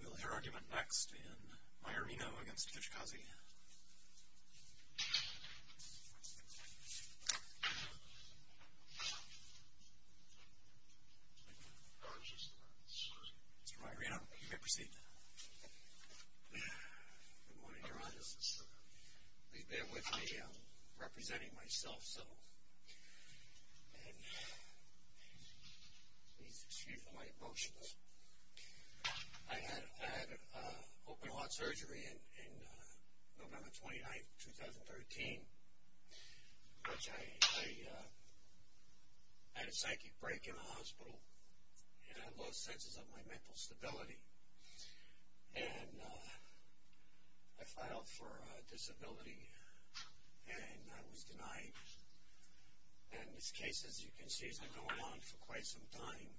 We will hear argument next in Maiorino v. Kijakazi. Mr. Maiorino, you may proceed. Please bear with me. I'm representing myself, so please excuse my emotions. I had open heart surgery on November 29, 2013. I had a psychic break in the hospital and I lost senses of my mental stability. And I filed for disability and I was denied. And this case, as you can see, has been going on for quite some time.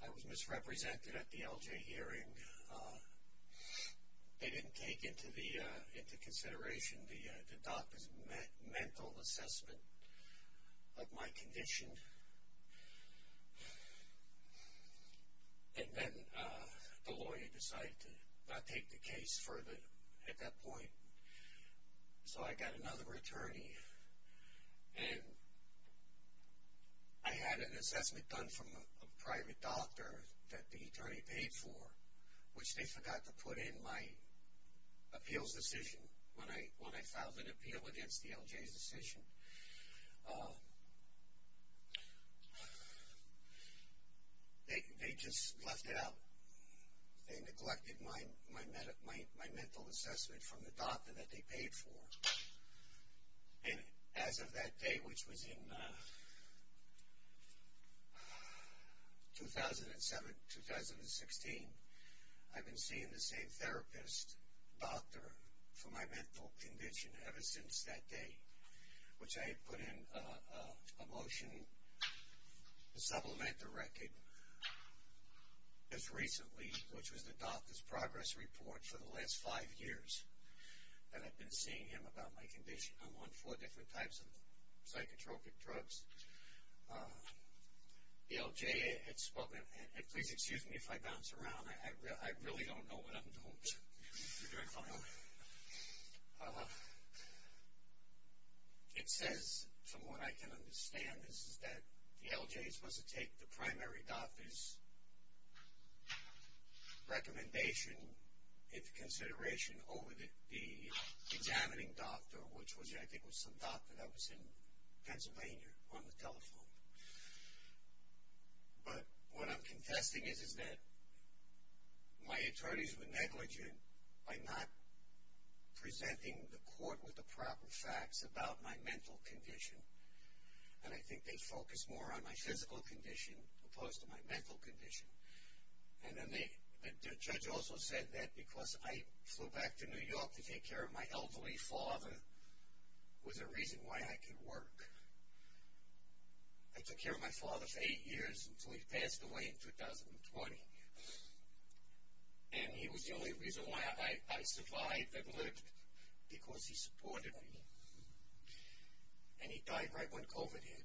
I was misrepresented at the LJ hearing. They didn't take into consideration the doctor's mental assessment of my condition. And then the lawyer decided to not take the case further at that point. So I got another attorney and I had an assessment done from a private doctor that the attorney paid for, which they forgot to put in my appeals decision when I filed an appeal against the LJ's decision. They just left it out. They neglected my mental assessment from the doctor that they paid for. And as of that day, which was in 2007, 2016, I've been seeing the same therapist, doctor, for my mental condition ever since that day. Which I had put in a motion to supplement the record as recently, which was the doctor's progress report for the last five years that I've been seeing him about my condition. I'm on four different types of psychotropic drugs. The LJ had spoken, and please excuse me if I bounce around. I really don't know what I'm doing. It says, from what I can understand, that the LJ is supposed to take the primary doctor's recommendation into consideration over the examining doctor, which I think was some doctor that was in Pennsylvania on the telephone. But what I'm confessing is that my attorneys were negligent by not presenting the court with the proper facts about my mental condition. And I think they focused more on my physical condition opposed to my mental condition. And then the judge also said that because I flew back to New York to take care of my elderly father was a reason why I could work. I took care of my father for eight years until he passed away in 2020. And he was the only reason why I survived that lived, because he supported me. And he died right when COVID hit.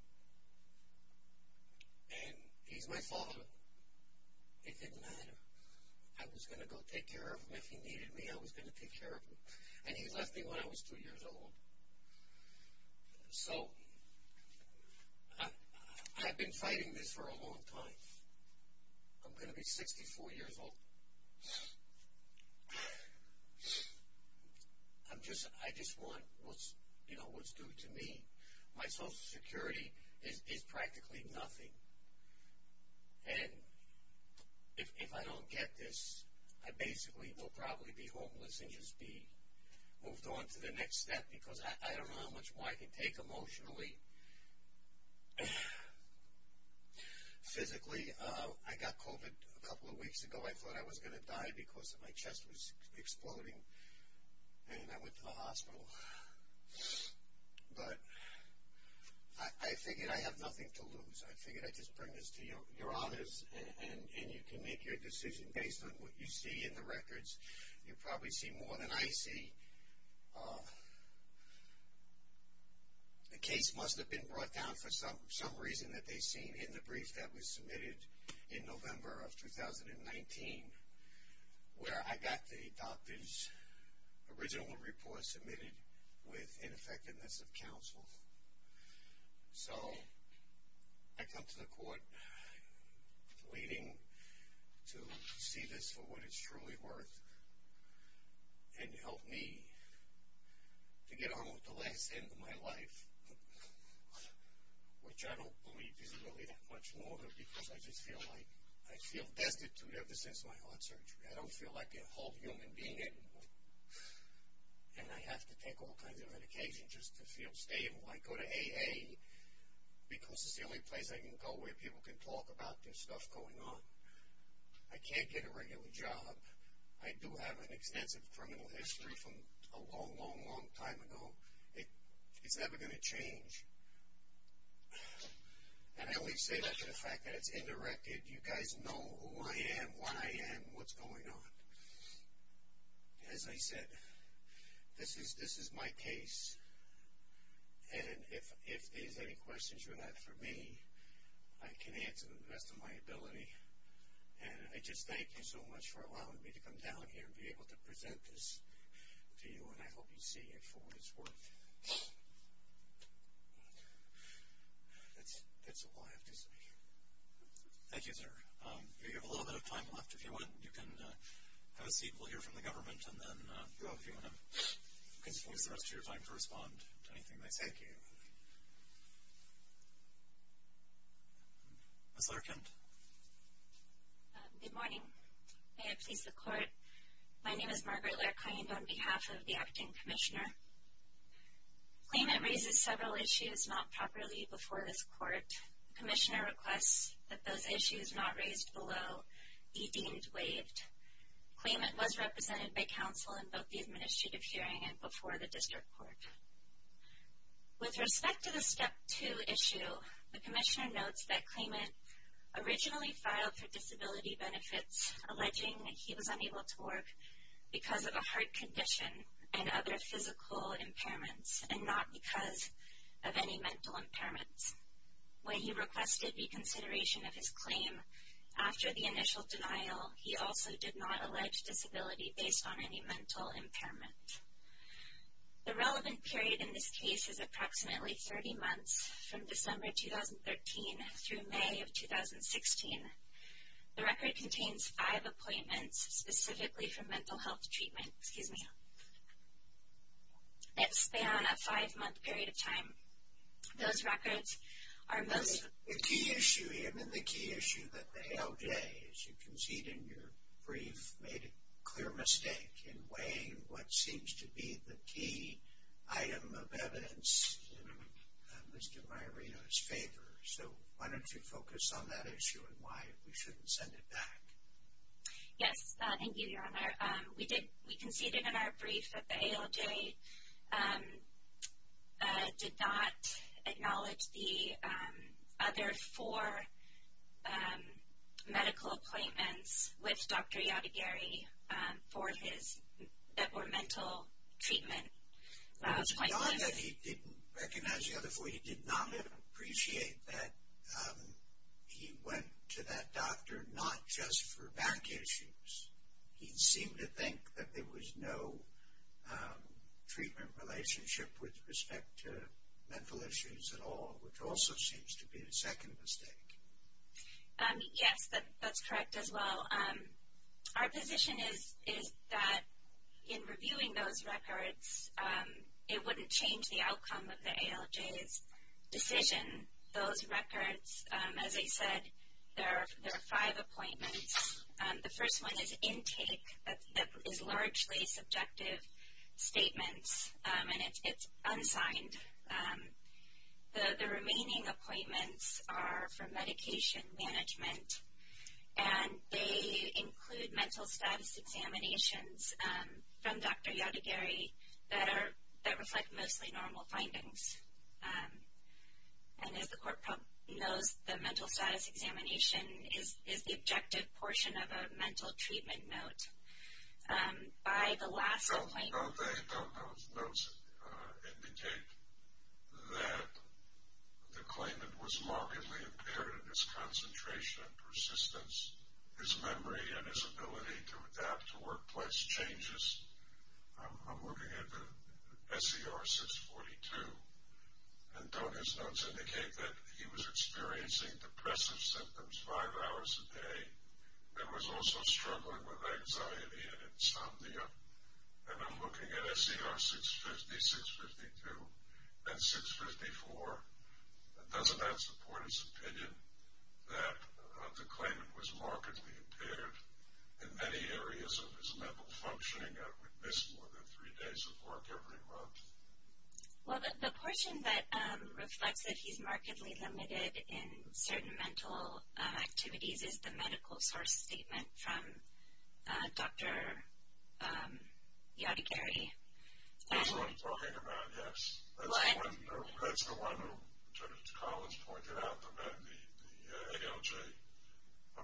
And he's my father. It didn't matter. I was going to go take care of him. If he needed me, I was going to take care of him. And he left me when I was two years old. So, I've been fighting this for a long time. I'm going to be 64 years old. I just want what's due to me. My Social Security is practically nothing. And if I don't get this, I basically will probably be homeless and just be moved on to the next step because I don't know how much more I can take emotionally. Physically, I got COVID a couple of weeks ago. I thought I was going to die because my chest was exploding. And I went to the hospital. But I figured I have nothing to lose. I figured I'd just bring this to your honors. And you can make your decision based on what you see in the records. You probably see more than I see. The case must have been brought down for some reason that they've seen in the brief that was submitted in November of 2019 where I got the doctor's original report submitted with ineffectiveness of counsel. So, I come to the court pleading to see this for what it's truly worth and help me to get on with the last end of my life, which I don't believe is really that much more because I just feel like I feel destitute ever since my heart surgery. I don't feel like a whole human being anymore. And I have to take all kinds of medication just to feel stable. I go to AA because it's the only place I can go where people can talk about this stuff going on. I can't get a regular job. We do have an extensive criminal history from a long, long, long time ago. It's never going to change. And I always say that to the fact that it's in the record. You guys know who I am, when I am, what's going on. As I said, this is my case. And if there's any questions you have for me, I can answer them to the best of my ability. And I just thank you so much for allowing me to come down here and be able to present this to you. And I hope you see it for what it's worth. That's all I have to say. Thank you, sir. We have a little bit of time left. If you want, you can have a seat. We'll hear from the government and then go if you want to use the rest of your time to respond to anything they say. Thank you. Ms. Larkin. Good morning. May it please the Court, my name is Margaret Larkin on behalf of the Acting Commissioner. Claimant raises several issues not properly before this Court. The Commissioner requests that those issues not raised below be deemed waived. Claimant was represented by counsel in both the administrative hearing and before the District Court. With respect to the Step 2 issue, the Commissioner notes that Claimant originally filed for disability benefits, alleging he was unable to work because of a heart condition and other physical impairments, and not because of any mental impairments. When he requested reconsideration of his claim after the initial denial, he also did not allege disability based on any mental impairment. The relevant period in this case is approximately 30 months from December 2013 through May of 2016. The record contains five appointments specifically for mental health treatment. Excuse me. That span a five-month period of time. Those records are most... The key issue here, and the key issue that the ALJ, as you can see in your brief, made a clear mistake in weighing what seems to be the key item of evidence in Mr. Margarito's favor. So why don't you focus on that issue and why we shouldn't send it back. Yes. Thank you, Your Honor. We conceded in our brief that the ALJ did not acknowledge the other four medical appointments with Dr. Yadagiri for his, that were mental treatment appointments. It was not that he didn't recognize the other four. He did not appreciate that he went to that doctor not just for back issues. He seemed to think that there was no treatment relationship with respect to mental issues at all, which also seems to be the second mistake. Yes, that's correct as well. Our position is that in reviewing those records, it wouldn't change the outcome of the ALJ's decision. Those records, as I said, there are five appointments. The first one is intake. That is largely subjective statements, and it's unsigned. The remaining appointments are for medication management, and they include mental status examinations from Dr. Yadagiri that reflect mostly normal findings. And as the court knows, the mental status examination is the objective portion of a mental treatment note. By the last appointment. Don't those notes indicate that the claimant was markedly impaired in his concentration and persistence, his memory, and his ability to adapt to workplace changes? I'm looking at the SCR 642. And don't his notes indicate that he was experiencing depressive symptoms five hours a day and was also struggling with anxiety and insomnia? And I'm looking at SCR 650, 652, and 654. Doesn't that support his opinion that the claimant was markedly impaired in many areas of his mental functioning? We miss more than three days of work every month. Well, the portion that reflects that he's markedly limited in certain mental activities is the medical source statement from Dr. Yadagiri. That's what I'm talking about, yes. That's the one that Judge Collins pointed out, that the ALJ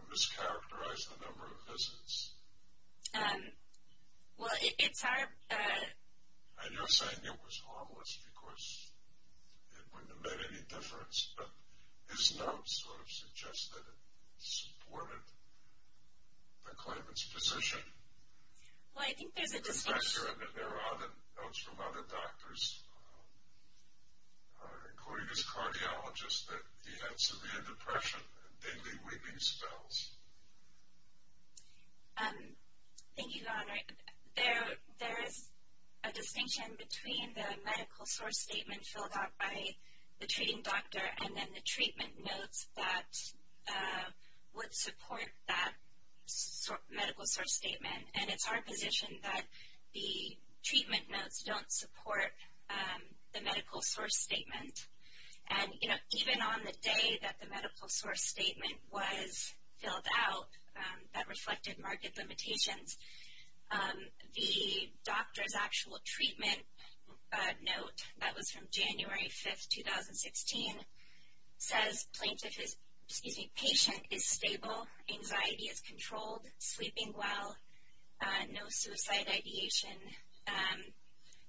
mischaracterized the number of visits. Well, it's our... And you're saying it was harmless because it wouldn't have made any difference, but his notes sort of suggest that it supported the claimant's position. Well, I think there's a distinction... There are notes from other doctors, including his cardiologist, that he had severe depression and daily weeping spells. Thank you, Your Honor. There is a distinction between the medical source statement filled out by the treating doctor and then the treatment notes that would support that medical source statement. And it's our position that the treatment notes don't support the medical source statement. And even on the day that the medical source statement was filled out, that reflected marked limitations, the doctor's actual treatment note that was from January 5th, 2016, says, Plaintiff is, excuse me, patient is stable, anxiety is controlled, sleeping well, no suicide ideation,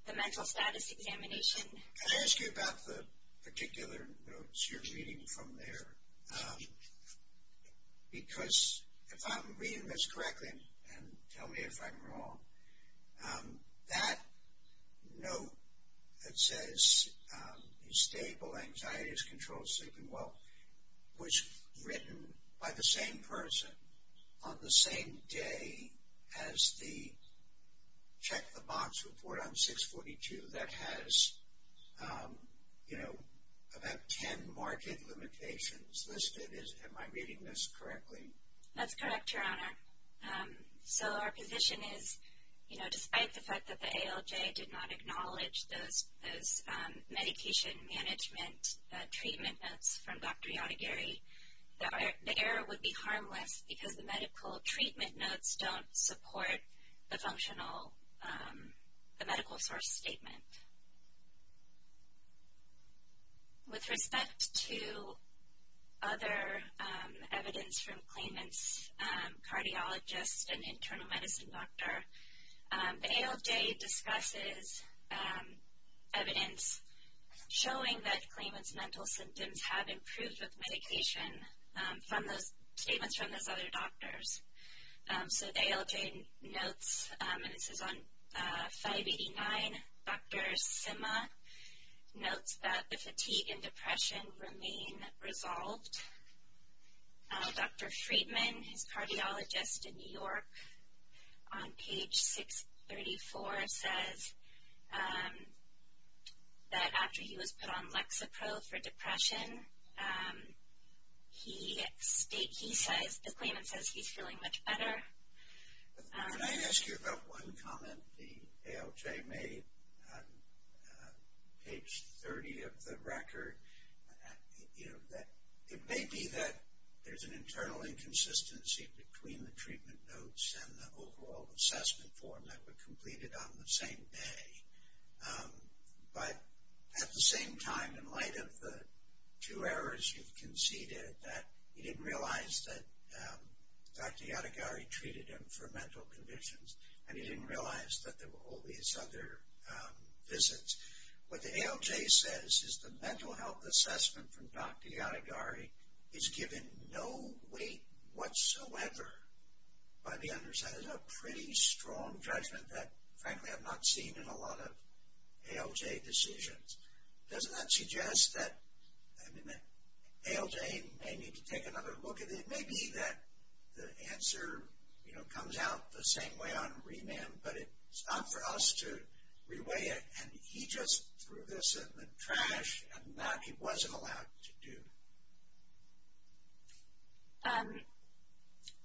the mental status examination... Can I ask you about the particular notes you're reading from there? Because if I'm reading this correctly, and tell me if I'm wrong, that note that says he's stable, anxiety is controlled, sleeping well, was written by the same person on the same day as the check the box report on 642 that has, you know, about 10 marked limitations listed. Am I reading this correctly? That's correct, Your Honor. So our position is, you know, despite the fact that the ALJ did not acknowledge those medication management treatment notes from Dr. Yadagiri, the error would be harmless because the medical treatment notes don't support the functional, the medical source statement. With respect to other evidence from claimant's cardiologist and internal medicine doctor, the ALJ discusses evidence showing that claimant's mental symptoms have improved with medication from those statements from those other doctors. So the ALJ notes, and this is on 589, Dr. Sima notes that the fatigue and depression remain resolved. Dr. Friedman, his cardiologist in New York, on page 634 says that after he was put on Lexapro for depression, he states, he says, the claimant says he's feeling much better. Can I ask you about one comment the ALJ made on page 30 of the record? It may be that there's an internal inconsistency between the treatment notes and the overall assessment form that were completed on the same day. But at the same time, in light of the two errors you've conceded, that he didn't realize that Dr. Yadagiri treated him for mental conditions, and he didn't realize that there were all these other visits. What the ALJ says is the mental health assessment from Dr. Yadagiri is given no weight whatsoever. But he understands a pretty strong judgment that, frankly, I've not seen in a lot of ALJ decisions. Doesn't that suggest that ALJ may need to take another look at it? It may be that the answer comes out the same way on remand, but it's not for us to reweigh it, and he just threw this in the trash, and that he wasn't allowed to do.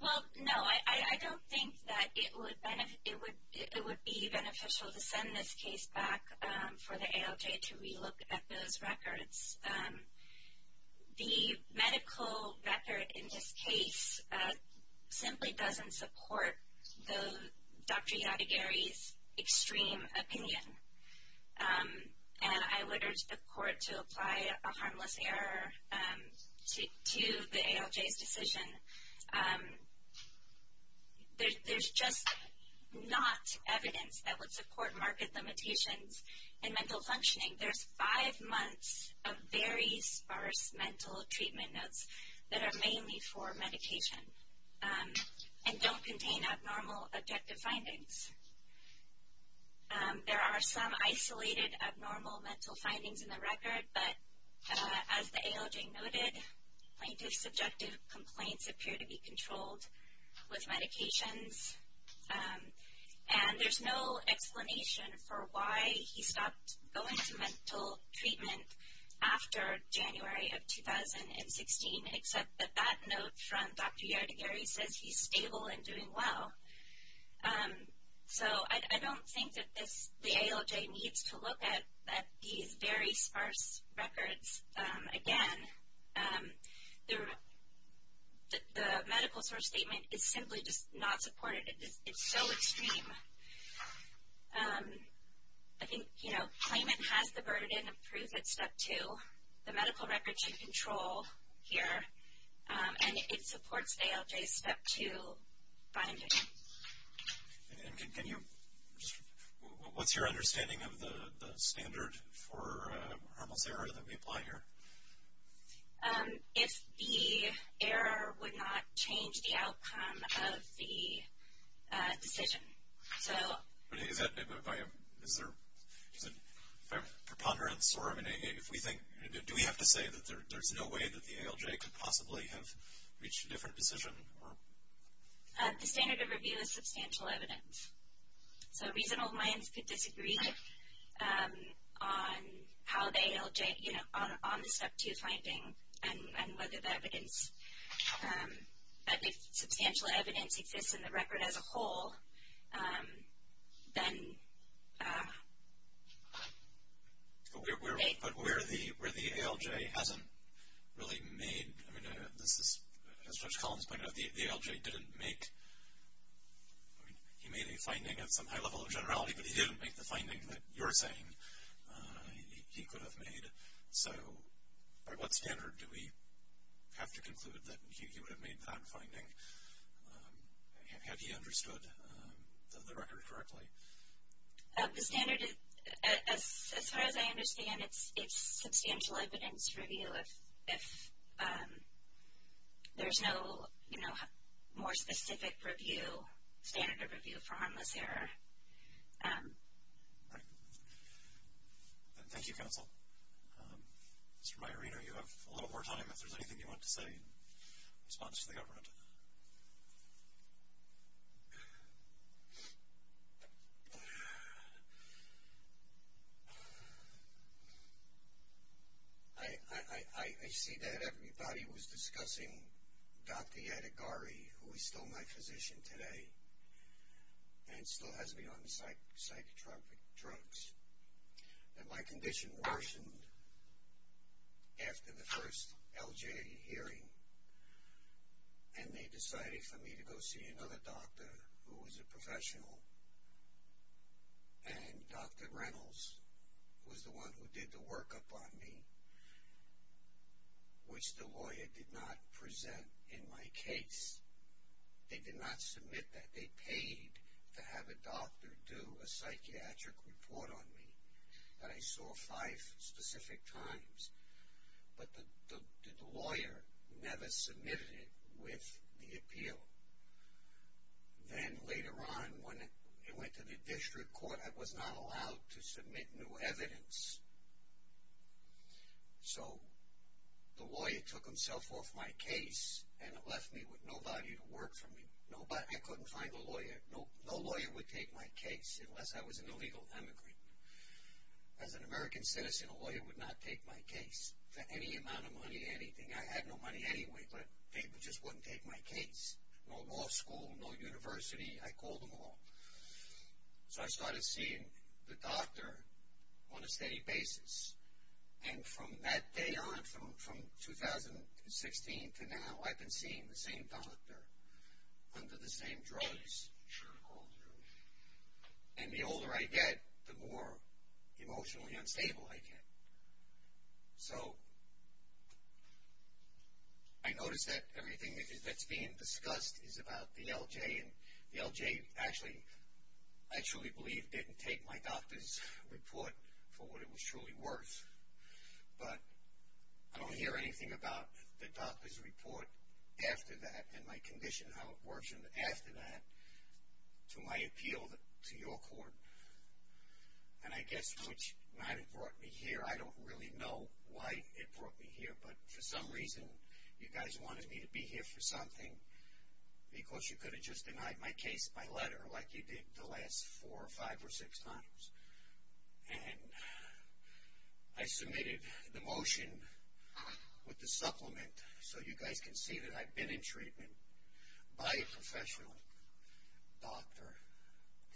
Well, no, I don't think that it would be beneficial to send this case back for the ALJ to relook at those records. The medical record in this case simply doesn't support Dr. Yadagiri's extreme opinion. And I would urge the court to apply a harmless error to the ALJ's decision. There's just not evidence that would support market limitations in mental functioning. There's five months of very sparse mental treatment notes that are mainly for medication, and don't contain abnormal objective findings. There are some isolated abnormal mental findings in the record, but as the ALJ noted, plaintiff's subjective complaints appear to be controlled with medications. And there's no explanation for why he stopped going to mental treatment after January of 2016, except that that note from Dr. Yadagiri says he's stable and doing well. So I don't think that the ALJ needs to look at these very sparse records again. The medical source statement is simply just not supportive. It's so extreme. I think, you know, claimant has the burden of proof at step two. The medical record's in control here, and it supports ALJ's step two finding. And can you, what's your understanding of the standard for harmless error that we apply here? If the error would not change the outcome of the decision. Is there a preponderance? Do we have to say that there's no way that the ALJ could possibly have reached a different decision? The standard of review is substantial evidence. So reasonable minds could disagree on how the ALJ, you know, on the step two finding, and whether the evidence, if substantial evidence exists in the record as a whole, then they. But where the ALJ hasn't really made, I mean, this is, as Judge Collins pointed out, the ALJ didn't make, I mean, he made a finding at some high level of generality, but he didn't make the finding that you're saying he could have made. So by what standard do we have to conclude that he would have made that finding? Have you understood the record correctly? The standard, as far as I understand, it's substantial evidence review. If there's no, you know, more specific review, standard of review for harmless error. Right. Thank you, counsel. Mr. Mayorino, you have a little more time if there's anything you want to say in response to the government. I see that everybody was discussing Dr. Yadigari, who is still my physician today, and still has me on psychotropic drugs. And my condition worsened after the first LJ hearing, and they decided for me to go see another doctor who was a professional. And Dr. Reynolds was the one who did the workup on me, which the lawyer did not present in my case. They did not submit that. They paid to have a doctor do a psychiatric report on me that I saw five specific times. But the lawyer never submitted it with the appeal. Then later on, when it went to the district court, I was not allowed to submit new evidence. So the lawyer took himself off my case and left me with nobody to work for me. I couldn't find a lawyer. No lawyer would take my case unless I was an illegal immigrant. As an American citizen, a lawyer would not take my case for any amount of money, anything. I had no money anyway, but they just wouldn't take my case. No law school, no university. I called them all. So I started seeing the doctor on a steady basis. And from that day on, from 2016 to now, I've been seeing the same doctor under the same drugs. And the older I get, the more emotionally unstable I get. So I notice that everything that's being discussed is about the LJ. And the LJ actually, I truly believe, didn't take my doctor's report for what it was truly worth. But I don't hear anything about the doctor's report after that and my condition, how it works after that, to my appeal to your court. And I guess which might have brought me here. I don't really know why it brought me here, but for some reason, you guys wanted me to be here for something. Because you could have just denied my case by letter like you did the last four or five or six times. And I submitted the motion with the supplement so you guys can see that I've been in treatment by a professional doctor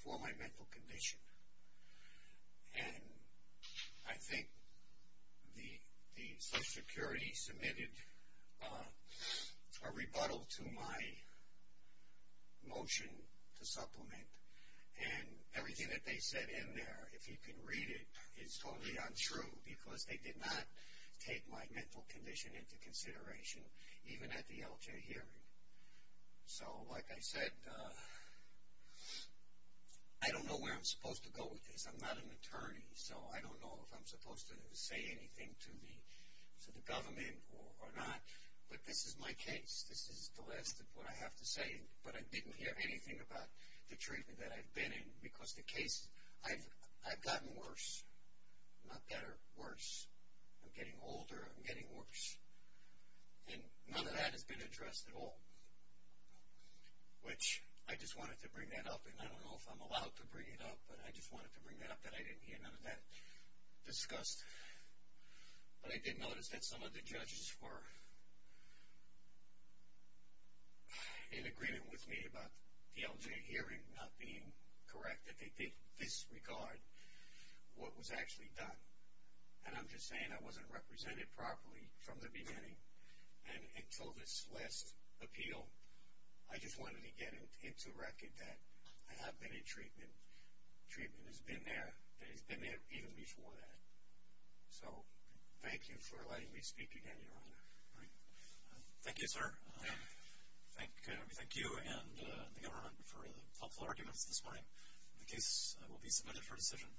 for my mental condition. And I think the Social Security submitted a rebuttal to my motion to supplement. And everything that they said in there, if you can read it, is totally untrue. Because they did not take my mental condition into consideration, even at the LJ hearing. So like I said, I don't know where I'm supposed to go with this. I'm not an attorney, so I don't know if I'm supposed to say anything to the government or not. But this is my case. This is the last of what I have to say. But I didn't hear anything about the treatment that I've been in. Because the case, I've gotten worse. Not better, worse. I'm getting older, I'm getting worse. And none of that has been addressed at all. Which, I just wanted to bring that up. And I don't know if I'm allowed to bring it up. But I just wanted to bring that up that I didn't hear none of that discussed. But I did notice that some of the judges were in agreement with me about the LJ hearing not being correct. That they did disregard what was actually done. And I'm just saying I wasn't represented properly from the beginning. And until this last appeal, I just wanted to get into record that I have been in treatment. Treatment has been there. And it's been there even before that. So, thank you for letting me speak again, Your Honor. Thank you, sir. We thank you and the government for the helpful arguments this morning. The case will be submitted for decision.